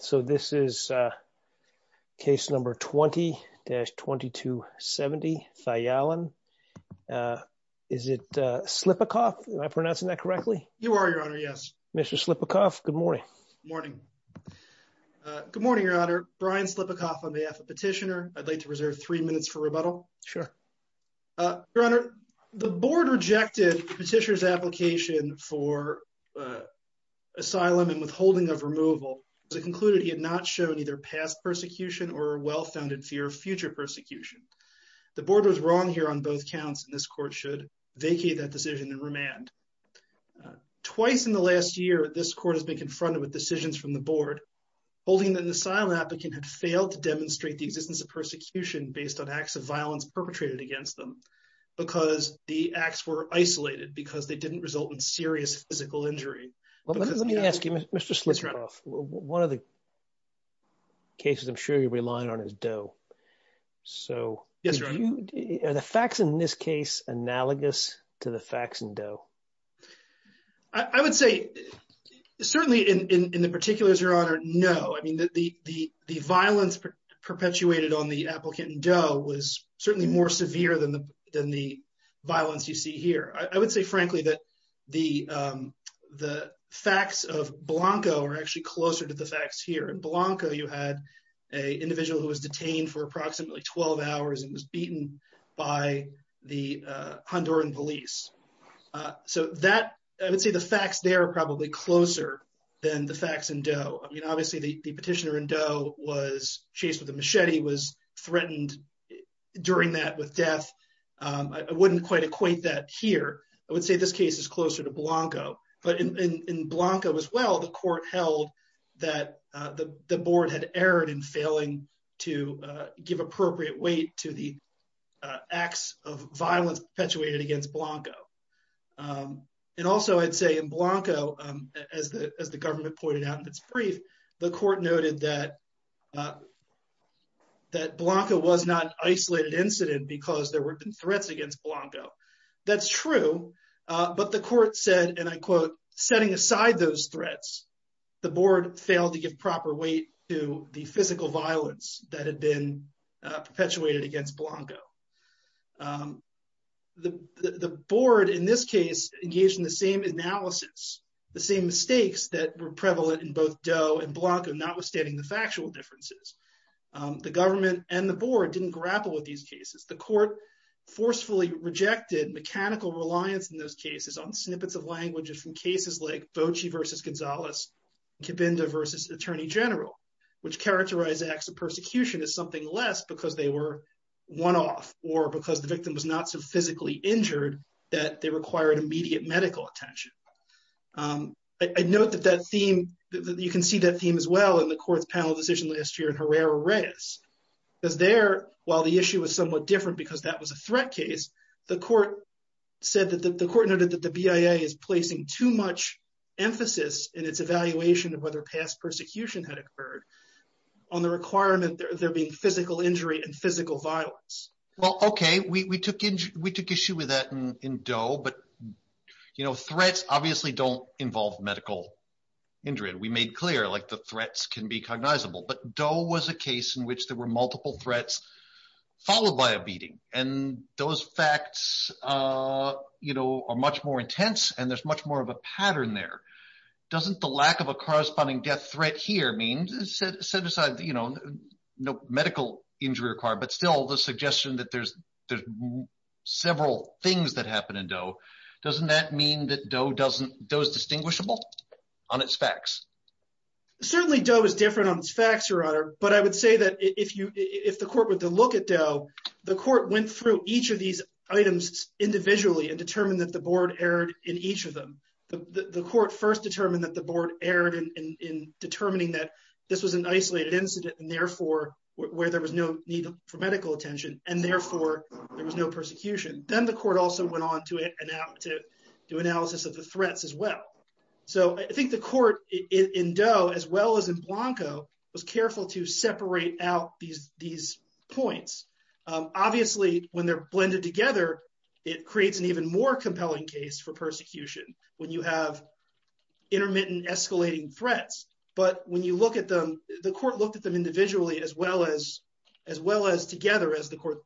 So this is case number 20-2270, Thayalan. Is it Slipikoff? Am I pronouncing that correctly? You are, Your Honor, yes. Mr. Slipikoff, good morning. Morning. Good morning, Your Honor. Brian Slipikoff on behalf of Petitioner. I'd like to reserve three minutes for rebuttal. Sure. Your Honor, the board rejected Petitioner's application for asylum and withholding of either past persecution or a well-founded fear of future persecution. The board was wrong here on both counts, and this court should vacate that decision and remand. Twice in the last year, this court has been confronted with decisions from the board holding that an asylum applicant had failed to demonstrate the existence of persecution based on acts of violence perpetrated against them because the acts were isolated, because they didn't result in serious physical injury. Let me ask you, Mr. Slipikoff, one of the cases I'm sure you're relying on is Doe. So are the facts in this case analogous to the facts in Doe? I would say certainly in the particular, Your Honor, no. I mean, the violence perpetuated on the applicant in Doe was certainly more severe than the violence you see here. I would say, frankly, that the facts of Blanco are actually closer to the facts here. In Blanco, you had an individual who was detained for approximately 12 hours and was beaten by the Honduran police. So that, I would say the facts there are probably closer than the facts in Doe. I mean, obviously, the petitioner in Doe was chased with a machete, was threatened during that with death. I wouldn't quite equate that here. I would say this case is closer to Blanco. But in Blanco as well, the court held that the board had erred in failing to give appropriate weight to the acts of violence perpetuated against Blanco. And also, I'd say in Blanco, as the government pointed out in its brief, the court noted that Blanco was not an isolated incident because there had been threats against Blanco. That's true. But the court said, and I quote, setting aside those threats, the board failed to give proper weight to the physical violence that had been perpetuated against Blanco. The board, in this case, engaged in the same analysis, the same mistakes that were prevalent in both Doe and Blanco, notwithstanding the factual differences. The government and the court forcefully rejected mechanical reliance in those cases on snippets of languages from cases like Bocce versus Gonzalez, Cabinda versus Attorney General, which characterize acts of persecution as something less because they were one-off or because the victim was not so physically injured that they required immediate medical attention. I note that that theme, you can see that theme as well in the court's panel decision last year in Herrera-Reyes. Because there, while the issue was somewhat different because that was a threat case, the court noted that the BIA is placing too much emphasis in its evaluation of whether past persecution had occurred on the requirement there being physical injury and physical violence. Well, okay. We took issue with that in Doe, but threats obviously don't involve medical injury. We made clear the threats can be cognizable. But Doe was a case in which there were multiple threats followed by a beating. And those facts are much more intense, and there's much more of a pattern there. Doesn't the lack of a corresponding death threat here mean, set aside no medical injury required, but still the suggestion that there's several things that happen in Doe, doesn't that mean that Doe is distinguishable on its facts? Certainly, Doe is different on its facts, Your Honor. But I would say that if the court were to look at Doe, the court went through each of these items individually and determined that the board erred in each of them. The court first determined that the board erred in determining that this was an isolated incident, and therefore, where there was no need for medical attention, and therefore, there was no persecution. Then the court also went on to do analysis of the in Doe, as well as in Blanco, was careful to separate out these points. Obviously, when they're blended together, it creates an even more compelling case for persecution when you have intermittent escalating threats. But when you look at them, the court looked at them individually as well as together as the court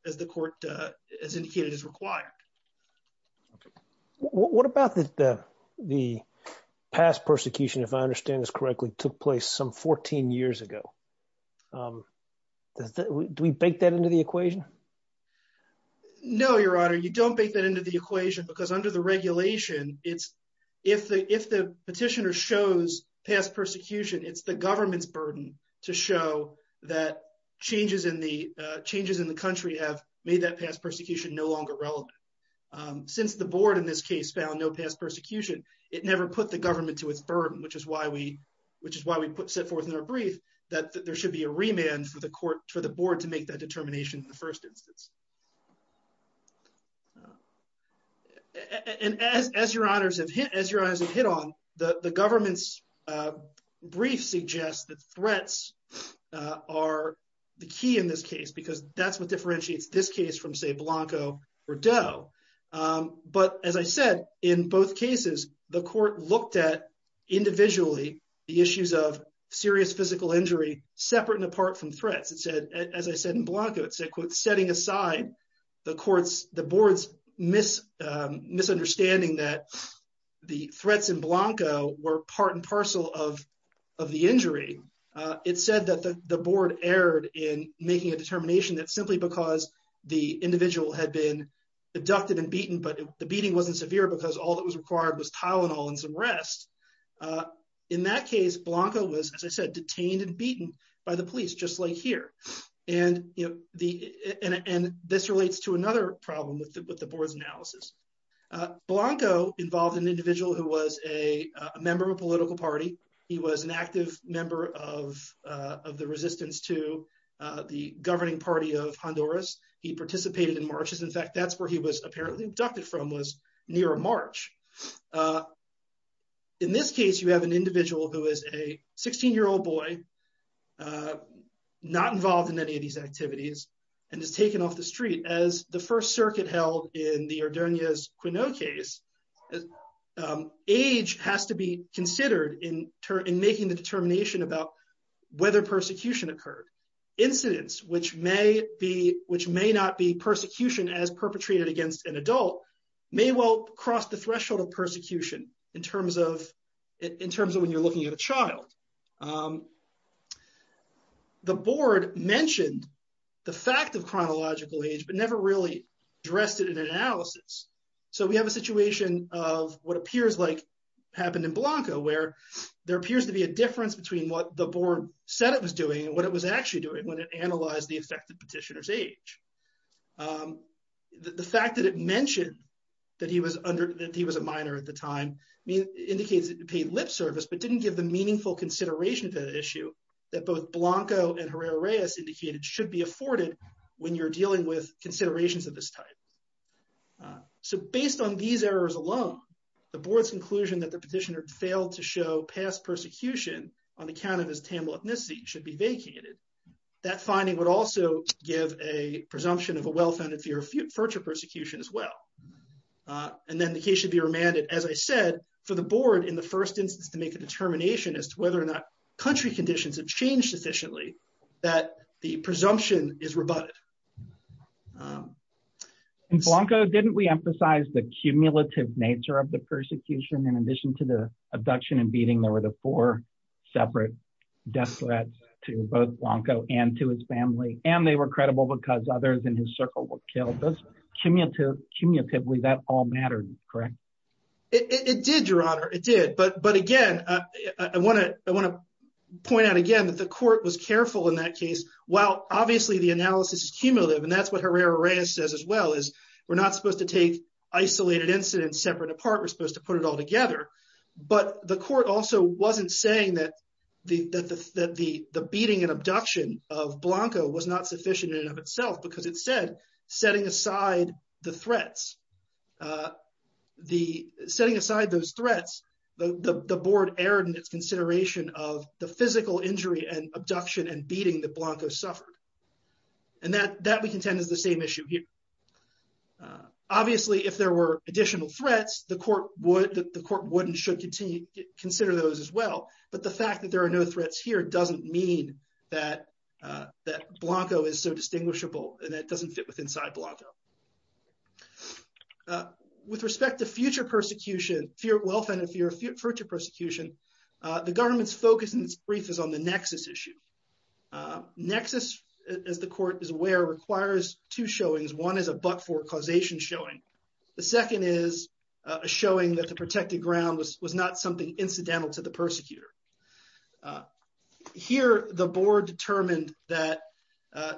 has indicated is required. Okay. What about the past persecution, if I understand this correctly, took place some 14 years ago? Do we bake that into the equation? No, Your Honor, you don't bake that into the equation because under the regulation, if the petitioner shows past persecution, it's the government's burden to show that changes in the country have made that past persecution no longer relevant. Since the board in this case found no past persecution, it never put the government to its burden, which is why we set forth in our brief that there should be a remand for the board to make that determination in the first instance. As Your Honors have hit on, the government's brief suggests that threats are the key in this case because that's what Blanco or Doe. But as I said, in both cases, the court looked at individually the issues of serious physical injury separate and apart from threats. It said, as I said in Blanco, it said, quote, setting aside the board's misunderstanding that the threats in Blanco were part and parcel of the injury. It said that the board erred in making a determination that because the individual had been abducted and beaten, but the beating wasn't severe because all that was required was Tylenol and some rest. In that case, Blanco was, as I said, detained and beaten by the police, just like here. And this relates to another problem with the board's analysis. Blanco involved an individual who was a member of a political party. He was an active member of the resistance to the governing party of Honduras. He participated in marches. In fact, that's where he was apparently abducted from, was near a march. In this case, you have an individual who is a 16-year-old boy, not involved in any of these activities, and is taken off the street. As the First Circuit held in the Ordonez-Queneau case, age has to be considered in making the determination about whether persecution occurred. Incidents which may not be persecution as perpetrated against an adult may well cross the threshold of persecution in terms of when you're looking at a child. The board mentioned the fact of chronological age, but never really addressed it in analysis. So we have a situation of what appears like happened in Blanco, where there appears to be a difference between what the board said it was doing and what it was actually doing when it analyzed the effect of petitioner's age. The fact that it mentioned that he was a minor at the time indicates it paid lip service, but didn't give the meaningful consideration to the issue that both Blanco and Herrera-Reyes indicated should be afforded when you're dealing with considerations of this type. So based on these errors alone, the board's conclusion that the petitioner failed to show past persecution on account of his Tamil ethnicity should be vacated. That finding would also give a presumption of a well-founded fear of future persecution as well. And then the case should be remanded, as I said, for the board in the first instance to make a determination as to whether or not country conditions have changed sufficiently that the presumption is rebutted. And Blanco, didn't we emphasize the cumulative nature of the persecution in addition to the abduction and beating? There were the four separate death threats to both Blanco and to his family, and they were credible because others in his circle were killed. Cumulatively, that all mattered, correct? It did, Your Honor, it did. But again, I want to point out again that the court was cumulative, and that's what Herrera-Reyes says as well, is we're not supposed to take isolated incidents separate apart, we're supposed to put it all together. But the court also wasn't saying that the beating and abduction of Blanco was not sufficient in and of itself because it said, setting aside the threats, setting aside those threats, the board erred in its consideration of the physical injury and abduction and beating that Blanco suffered. And that we contend is the same issue here. Obviously, if there were additional threats, the court would, the court would and should continue to consider those as well. But the fact that there are no threats here doesn't mean that Blanco is so distinguishable, and that doesn't fit with inside Blanco. With respect to future persecution, fear of welfare and fear of future persecution, the government's focus in its brief is on the nexus, as the court is aware, requires two showings. One is a but-for causation showing. The second is a showing that the protected ground was not something incidental to the persecutor. Here, the board determined that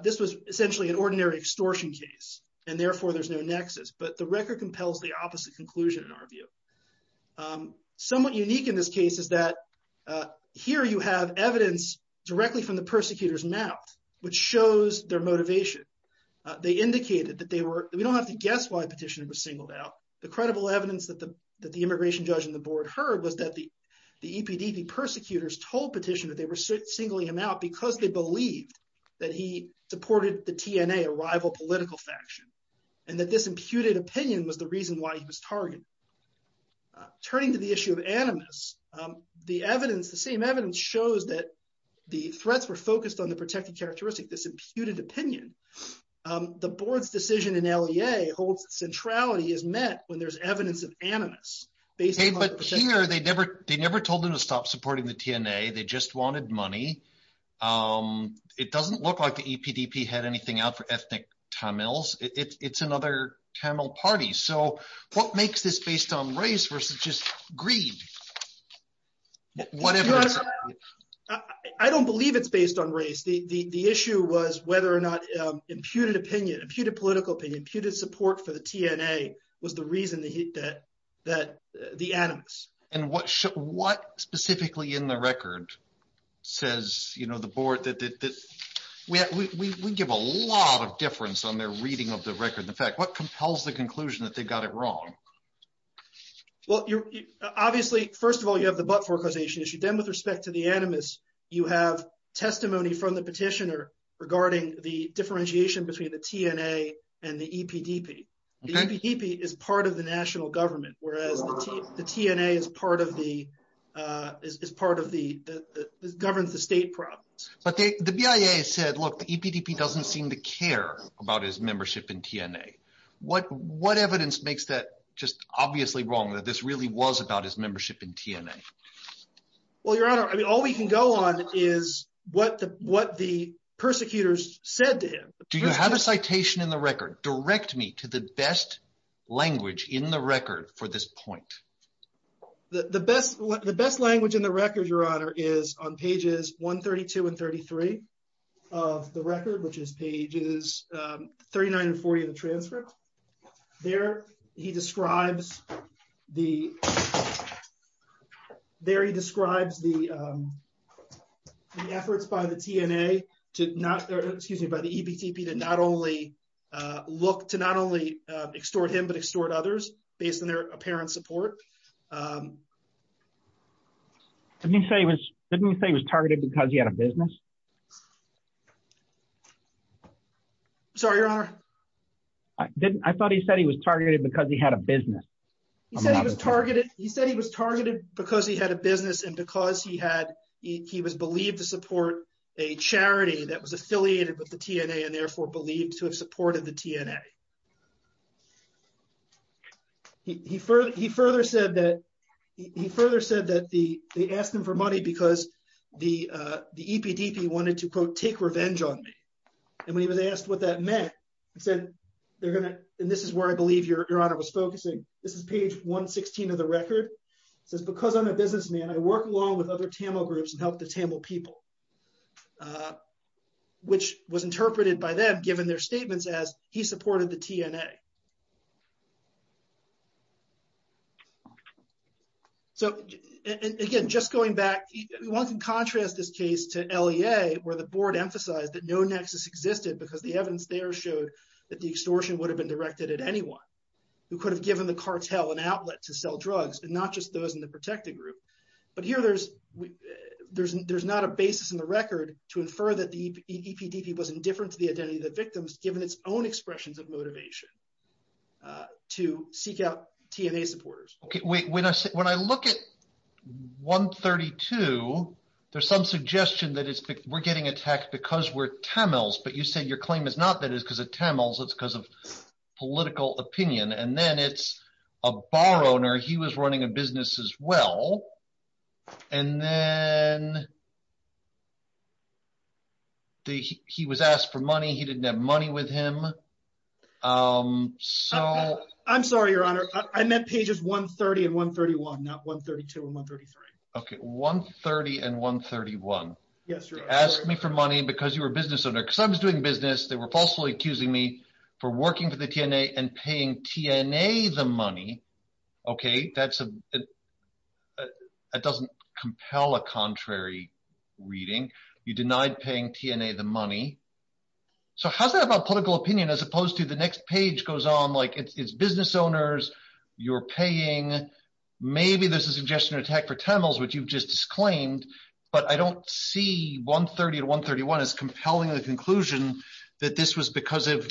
this was essentially an ordinary extortion case, and therefore there's no nexus. But the record compels the opposite conclusion in our view. Somewhat unique in this case is that here you have evidence directly from the persecutor's mouth, which shows their motivation. They indicated that they were, we don't have to guess why Petitioner was singled out. The credible evidence that the immigration judge and the board heard was that the EPDP persecutors told Petitioner they were singling him out because they believed that he supported the TNA, a rival political faction, and that this imputed opinion was the reason why he was targeted. Turning to the issue of animus, the evidence, the same characteristic, this imputed opinion, the board's decision in LEA holds that centrality is met when there's evidence of animus. But here, they never told him to stop supporting the TNA. They just wanted money. It doesn't look like the EPDP had anything out for ethnic Tamils. It's another Tamil party. So what makes this based on race versus just greed? I don't believe it's based on race. The issue was whether or not imputed opinion, imputed political opinion, imputed support for the TNA was the reason that the animus. And what specifically in the record says, you know, the board that, we give a lot of difference on their reading of the record. In fact, what compels the conclusion that they got it wrong? Well, obviously, first of all, you have the but-for causation issue. Then with respect to the animus, you have testimony from the petitioner regarding the differentiation between the TNA and the EPDP. The EPDP is part of the national government, whereas the TNA is part of the, is part of the, governs the state province. But the BIA said, look, the EPDP doesn't seem to care about his membership in TNA. What evidence makes that just obviously wrong, that this really was about his membership in TNA? Well, your honor, I mean, all we can go on is what the persecutors said to him. Do you have a citation in the record? Direct me to the best language in the record for this point. The best language in the record, your honor, is on pages 132 and 33 of the record, which is pages 39 and 40 of the transcript. There he describes the, there he describes the efforts by the TNA to not, excuse me, by the EPDP to not only look, to not only extort him, but extort others based on their apparent support. Didn't he say he was targeted because he had a business? Sorry, your honor. I thought he said he was targeted because he had a business. He said he was targeted because he had a business and because he had, he was believed to support a charity that was affiliated with the TNA and therefore believed to have supported the TNA. He further, he further said that, he further said that the, they asked him for money because the, the EPDP wanted to quote, take revenge on me. And when he was asked what that meant, he said, they're going to, and this is where I believe your honor was focusing. This is page 116 of the record. It says, because I'm a businessman, I work along with other Tamil groups and help the Tamil people, which was interpreted by them, given their statements as he supported the TNA. So again, just going back, we want to contrast this case to LEA where the board emphasized that no nexus existed because the evidence there showed that the extortion would have been directed at anyone who could have given the cartel an outlet to sell drugs and not just those in the protected group. But here there's, there's, there's not a basis in the record to of motivation to seek out TNA supporters. Okay. When I, when I look at 132, there's some suggestion that it's, we're getting attacked because we're Tamils, but you said your claim is not that it's because of Tamils, it's because of political opinion. And then it's a bar owner. He was running a business as well. And then the, he was asked for money. He didn't have money with him. I'm sorry, your honor. I meant pages 130 and 131, not 132 and 133. Okay. 130 and 131. Yes. You asked me for money because you were a business owner because I was doing business. They were falsely accusing me for working for the TNA and paying TNA the money. Okay. That's, that doesn't compel a contrary reading. You denied paying TNA the money. So how's that about political opinion, as opposed to the next page goes on, like it's business owners, you're paying, maybe there's a suggestion of attack for Tamils, which you've just disclaimed, but I don't see 130 to 131 as compelling the conclusion that this was because of,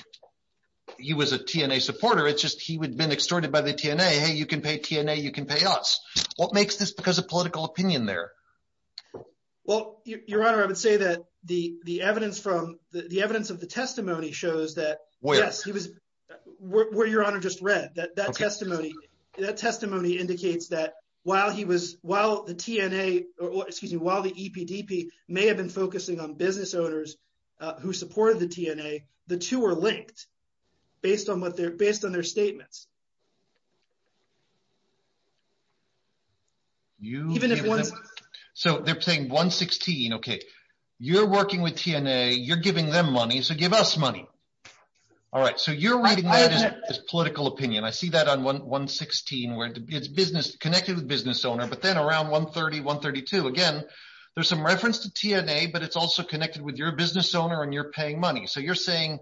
he was a TNA supporter. It's just, he would have been extorted by the TNA. Hey, you can pay TNA. You can pay us. What makes this because of political opinion there? Well, your honor, I would say that the, the evidence from the, the evidence of the testimony shows that, yes, he was where your honor just read that, that testimony, that testimony indicates that while he was, while the TNA or excuse me, while the EPDP may have been focusing on business owners who supported the TNA, the two are linked based on what they're based on their statements. You even if one's so they're paying one 16. Okay. You're working with TNA. You're giving them money. So give us money. All right. So you're reading that as political opinion. I see that on one, one 16, where it's business connected with business owner, but then around one 30, one 32, again, there's some reference to TNA, but it's also connected with your business owner and you're paying money. So you're saying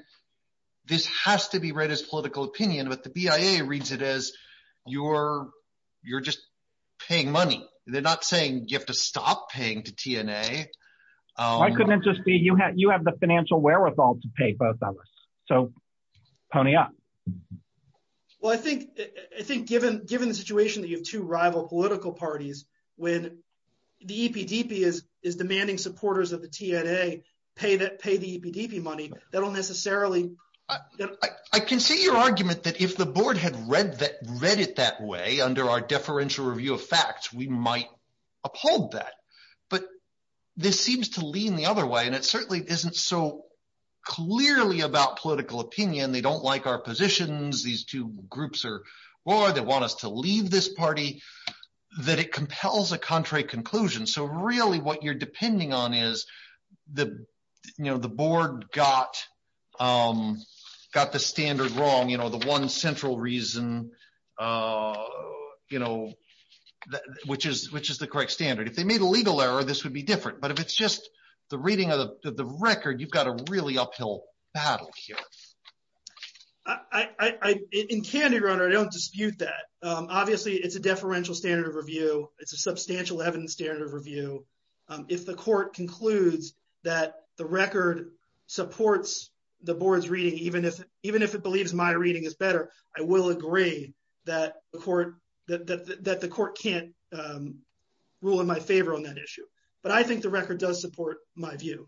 this has to be read as political opinion, but the BIA reads it as you're, you're just paying money. They're not saying you have to stop paying to TNA. I couldn't just be, you have, you have the financial wherewithal to pay both of us. So pony up. Well, I think, I think given, given the situation that you have two rival political parties, when the EPDP is, is demanding supporters of the TNA pay that, pay the EPDP money, that'll necessarily, I can see your argument that if the board had read that, read it that way under our deferential review of facts, we might uphold that, but this seems to lean the other way. And it certainly isn't so clearly about political opinion. They don't like our positions. These two groups are, or they want us to leave this party that it compels a contrary conclusion. So really what you're depending on is the, you know, the board got, got the standard wrong. You know, the one central reason you know, which is, which is the correct standard. If they made a legal error, this would be different. But if it's just the reading of the record, you've got a really uphill battle here. I, I, I, in candid runner, I don't dispute that. Obviously it's a standard review. If the court concludes that the record supports the board's reading, even if, even if it believes my reading is better, I will agree that the court, that, that, that the court can't rule in my favor on that issue. But I think the record does support my view.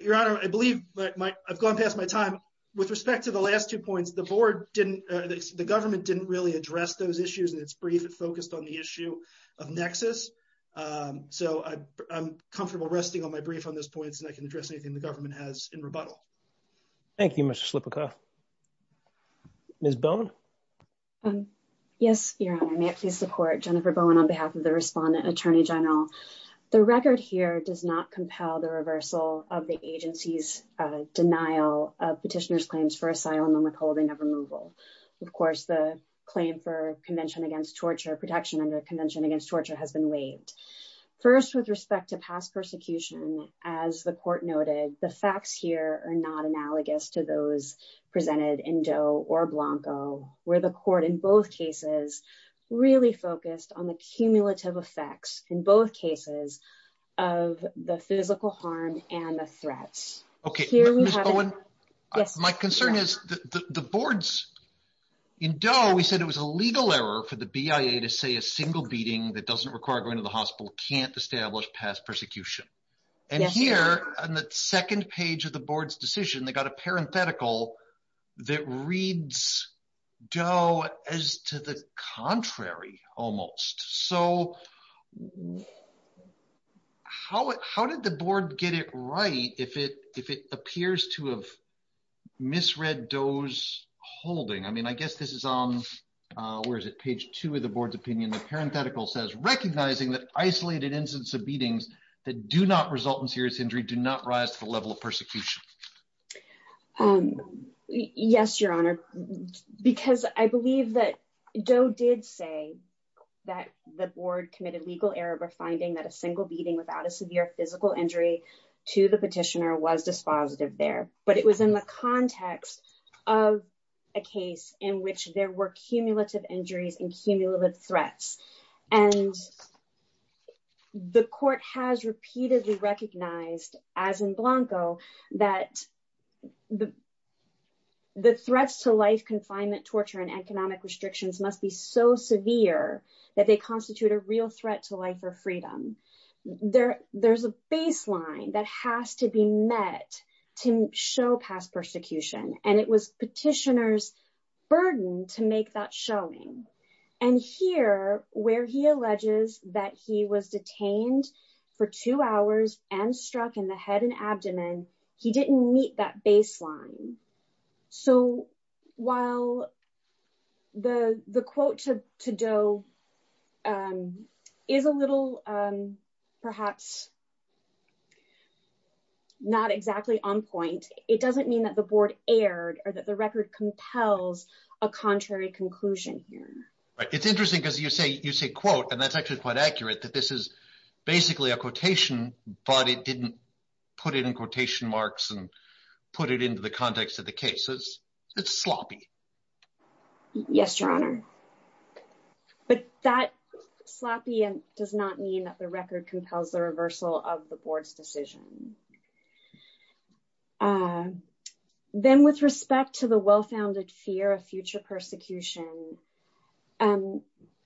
Your honor, I believe I've gone past my time. With respect to the last two points, the board didn't, the government didn't really address those issues in its brief. It focused on the issue of nexus. So I'm comfortable resting on my brief on those points and I can address anything the government has in rebuttal. Thank you, Mr. Slipika. Ms. Bowen. Yes, your honor, may I please support Jennifer Bowen on behalf of the respondent attorney general. The record here does not Of course, the claim for convention against torture protection under convention against torture has been waived. First, with respect to past persecution, as the court noted, the facts here are not analogous to those presented in Doe or Blanco, where the court in both cases really focused on the cumulative effects in both cases of the physical harm and the threats. Okay, Ms. Bowen, my concern is the boards in Doe, we said it was a legal error for the BIA to say a single beating that doesn't require going to the hospital can't establish past persecution. And here on the second page of the board's decision, they got a parenthetical that reads Doe as to the contrary, almost. So how did the board get it right if it appears to have misread Doe's holding? I mean, I guess this is on, where is it, page two of the board's opinion. The parenthetical says, recognizing that isolated incidents of beatings that do not result in serious injury do not rise to the level of persecution. Yes, Your Honor, because I believe that Doe did say that the board committed legal error for finding that a single beating without a severe physical injury to the petitioner was dispositive there. But it was in the context of a case in which there were cumulative injuries and cumulative threats. And the court has repeatedly recognized, as in Blanco, that the threats to life, confinement, torture, and economic restrictions must be so severe that they constitute a real threat to life or freedom. There's a baseline that has to be met to show past persecution. And it was petitioner's burden to make that showing. And here, where he alleges that he was detained for two hours and struck in the head and abdomen, he didn't meet that baseline. So while the quote to Doe is a little perhaps not exactly on point, it doesn't mean that the board erred or that the record compels a contrary conclusion here. It's interesting because you say quote, and that's actually quite accurate, that this is basically a quotation, but it didn't put it in quotation marks and put it into the context of the case. It's sloppy. Yes, Your Honor. But that sloppy does not mean the record compels the reversal of the board's decision. Then with respect to the well-founded fear of future persecution,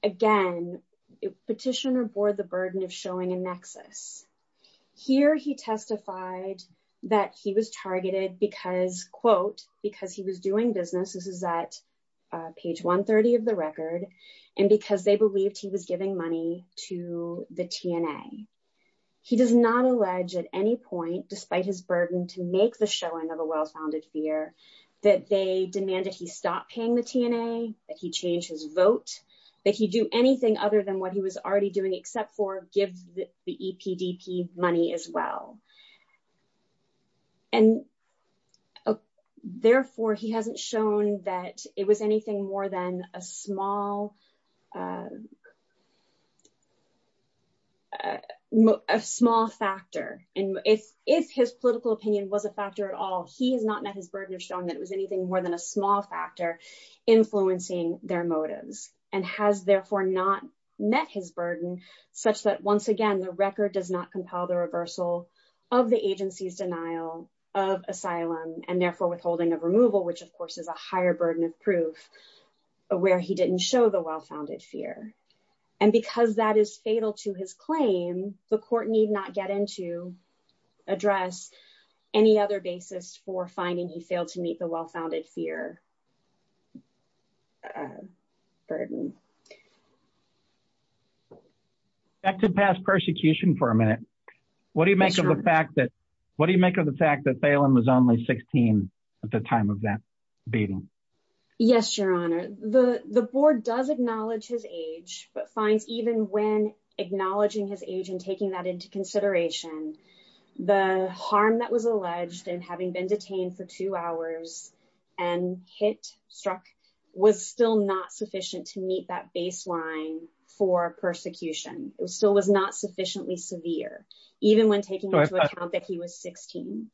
again, petitioner bore the burden of showing a nexus. Here he testified that he was targeted because, quote, because he was doing business. This is at page 130 of the record, and because they believed he was giving money to the TNA. He does not allege at any point, despite his burden, to make the showing of a well-founded fear that they demanded he stop paying the TNA, that he change his vote, that he do anything other than what he was already doing except for give the EPDP money as well. And therefore, he hasn't shown that it was anything more than a small factor. And if his political opinion was a factor at all, he has not met his burden of showing that it was anything more than a small factor influencing their motives, and has therefore not met his burden such that, once again, the record does not compel the reversal of the agency's denial of asylum and therefore withholding of removal, which of course is a higher burden of where he didn't show the well-founded fear. And because that is fatal to his claim, the court need not get into address any other basis for finding he failed to meet the well-founded fear burden. Back to past persecution for a minute. What do you make of the fact that what do you make of the fact that Phelan was only 16 at the time of that beating? Yes, Your Honor. The board does acknowledge his age, but finds even when acknowledging his age and taking that into consideration, the harm that was alleged and having been detained for two hours and hit, struck, was still not sufficient to meet that baseline for persecution. It still was not sufficiently severe, even when taking into account that he was 16.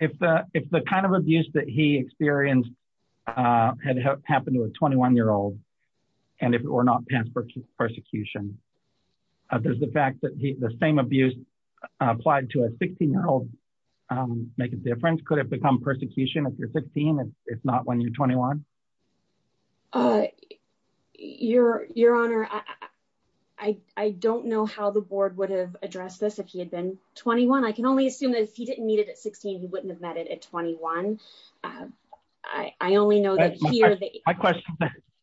If the kind of abuse that he experienced had happened to a 21-year-old, and if it were not past persecution, does the fact that the same abuse applied to a 16-year-old make a difference? Could it have become persecution if you're 16, if not when you're 21? Your Honor, I don't know how the board would have addressed this if he had been 21. I can only assume that if he didn't meet it at 16, he wouldn't have met it at 21.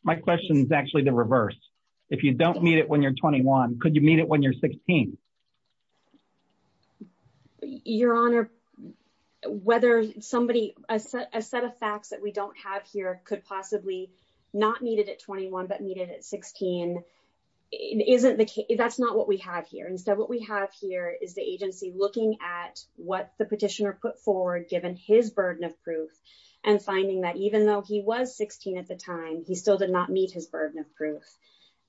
My question is actually the reverse. If you don't meet it when you're 21, could you meet it when you're 16? Your Honor, a set of facts that we don't have here could possibly not meet it at 21, but meet it at 16. That's not what we have here. Instead, what we have here is the agency looking at what the petitioner put forward, given his burden of proof, and finding that even though he was 16 at the time, he still did not meet his burden of proof.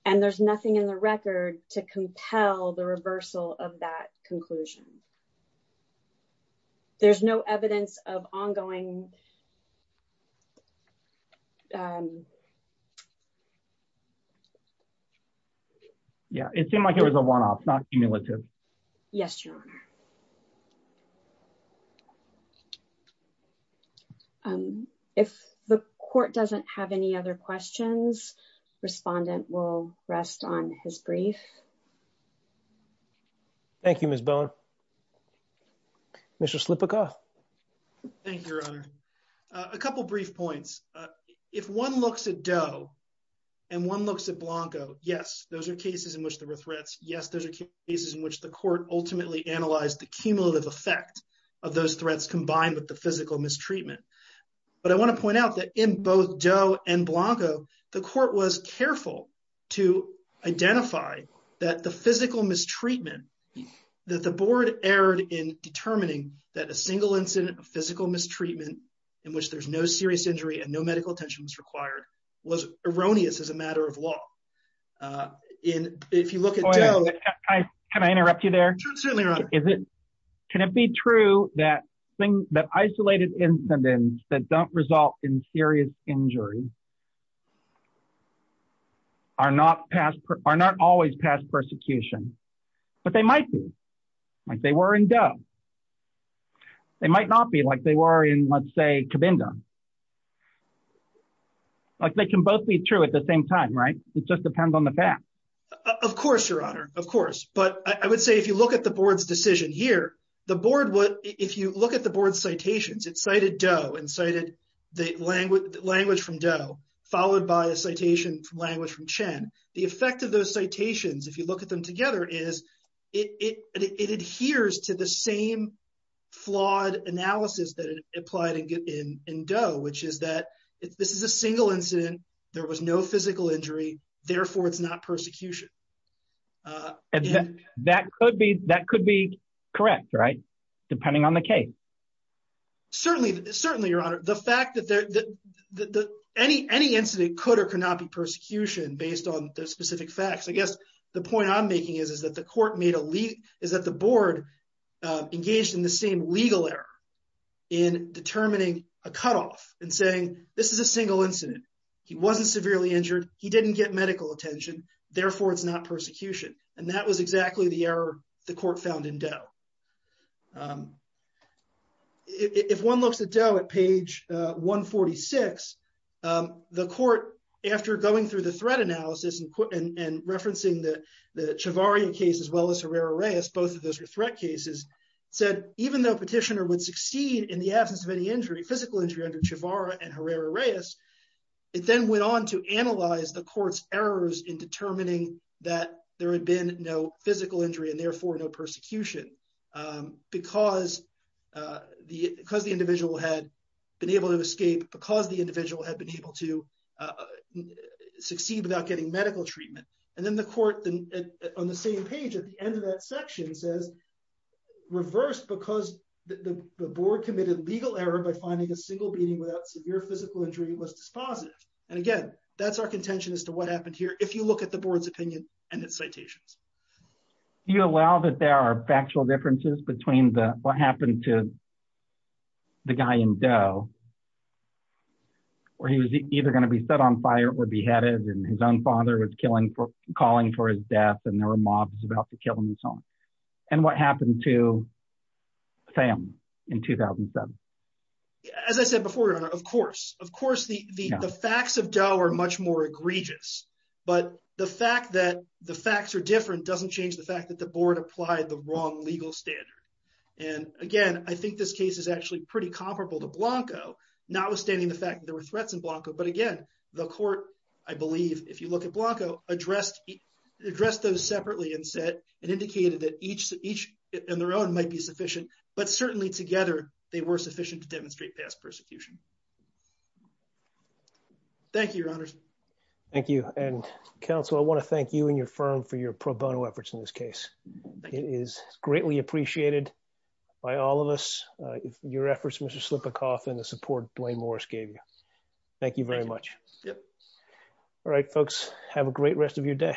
And there's nothing in the record to compel the reversal of that conclusion. There's no evidence of ongoing... Yeah, it seemed like it was a one-off, not cumulative. Yes, Your Honor. If the court doesn't have any other questions, the respondent will rest on his brief. Thank you, Ms. Bowen. Mr. Slipika. Thank you, Your Honor. A couple brief points. If one looks at Doe and one looks at Blanco, yes, those are cases in which there were threats. Yes, those are cases in which the court ultimately analyzed the cumulative effect of those threats combined with the physical mistreatment. But I want to point out that both Doe and Blanco, the court was careful to identify that the physical mistreatment that the board erred in determining that a single incident of physical mistreatment in which there's no serious injury and no medical attention was required was erroneous as a matter of law. If you look at Doe... Can it be true that isolated incidents that don't result in serious injury are not always past persecution? But they might be, like they were in Doe. They might not be like they were in, let's say, Cabinda. They can both be true at the same time, right? It just depends on the fact. Of course, Your Honor. Of course. But I would say if you look at the board's decision here, the board would... If you look at the board's citations, it cited Doe and cited the language from Doe, followed by a citation from language from Chen. The effect of those citations, if you look at them together, is it adheres to the same flawed analysis that applied in Doe, which is that this is a single incident, there was no physical injury, therefore it's not persecution. That could be correct, right? Depending on the case. Certainly, Your Honor. The fact that any incident could or could not be persecution based on the specific facts. I guess the point I'm making is that the court made a... Is that the board engaged in the same legal error in determining a cutoff and saying, this is a single incident. He wasn't severely injured, he didn't get medical attention, therefore it's not persecution. And that was exactly the error the court found in Doe. If one looks at Doe at page 146, the court, after going through the threat analysis and referencing the Chivarria case as well as Herrera-Reyes, both of those were threat cases, said even though petitioner would succeed in the absence of any injury, physical injury under it then went on to analyze the court's errors in determining that there had been no physical injury and therefore no persecution. Because the individual had been able to escape, because the individual had been able to succeed without getting medical treatment. And then the court on the same page at the end of that section says, reversed because the board committed legal error by finding a single beating without severe physical injury was dispositive. And again, that's our contention as to what happened here if you look at the board's opinion and its citations. Do you allow that there are factual differences between what happened to the guy in Doe, where he was either going to be set on fire or beheaded and his own father was calling for his death and there were mobs about to kill him and so on. And what happened to Pham in 2007? As I said before, Your Honor, of course, the facts of Doe are much more egregious. But the fact that the facts are different doesn't change the fact that the board applied the wrong legal standard. And again, I think this case is actually pretty comparable to Blanco, notwithstanding the fact that there were threats in Blanco. But again, the court, I believe, if you look at Blanco addressed those separately and said, and indicated that each in their own sufficient. But certainly together, they were sufficient to demonstrate past persecution. Thank you, Your Honor. Thank you. And counsel, I want to thank you and your firm for your pro bono efforts in this case. It is greatly appreciated by all of us. Your efforts, Mr. Slipikoff and the support Dwayne Morris gave you. Thank you very much. Yep. All right, folks, have a great rest of your day.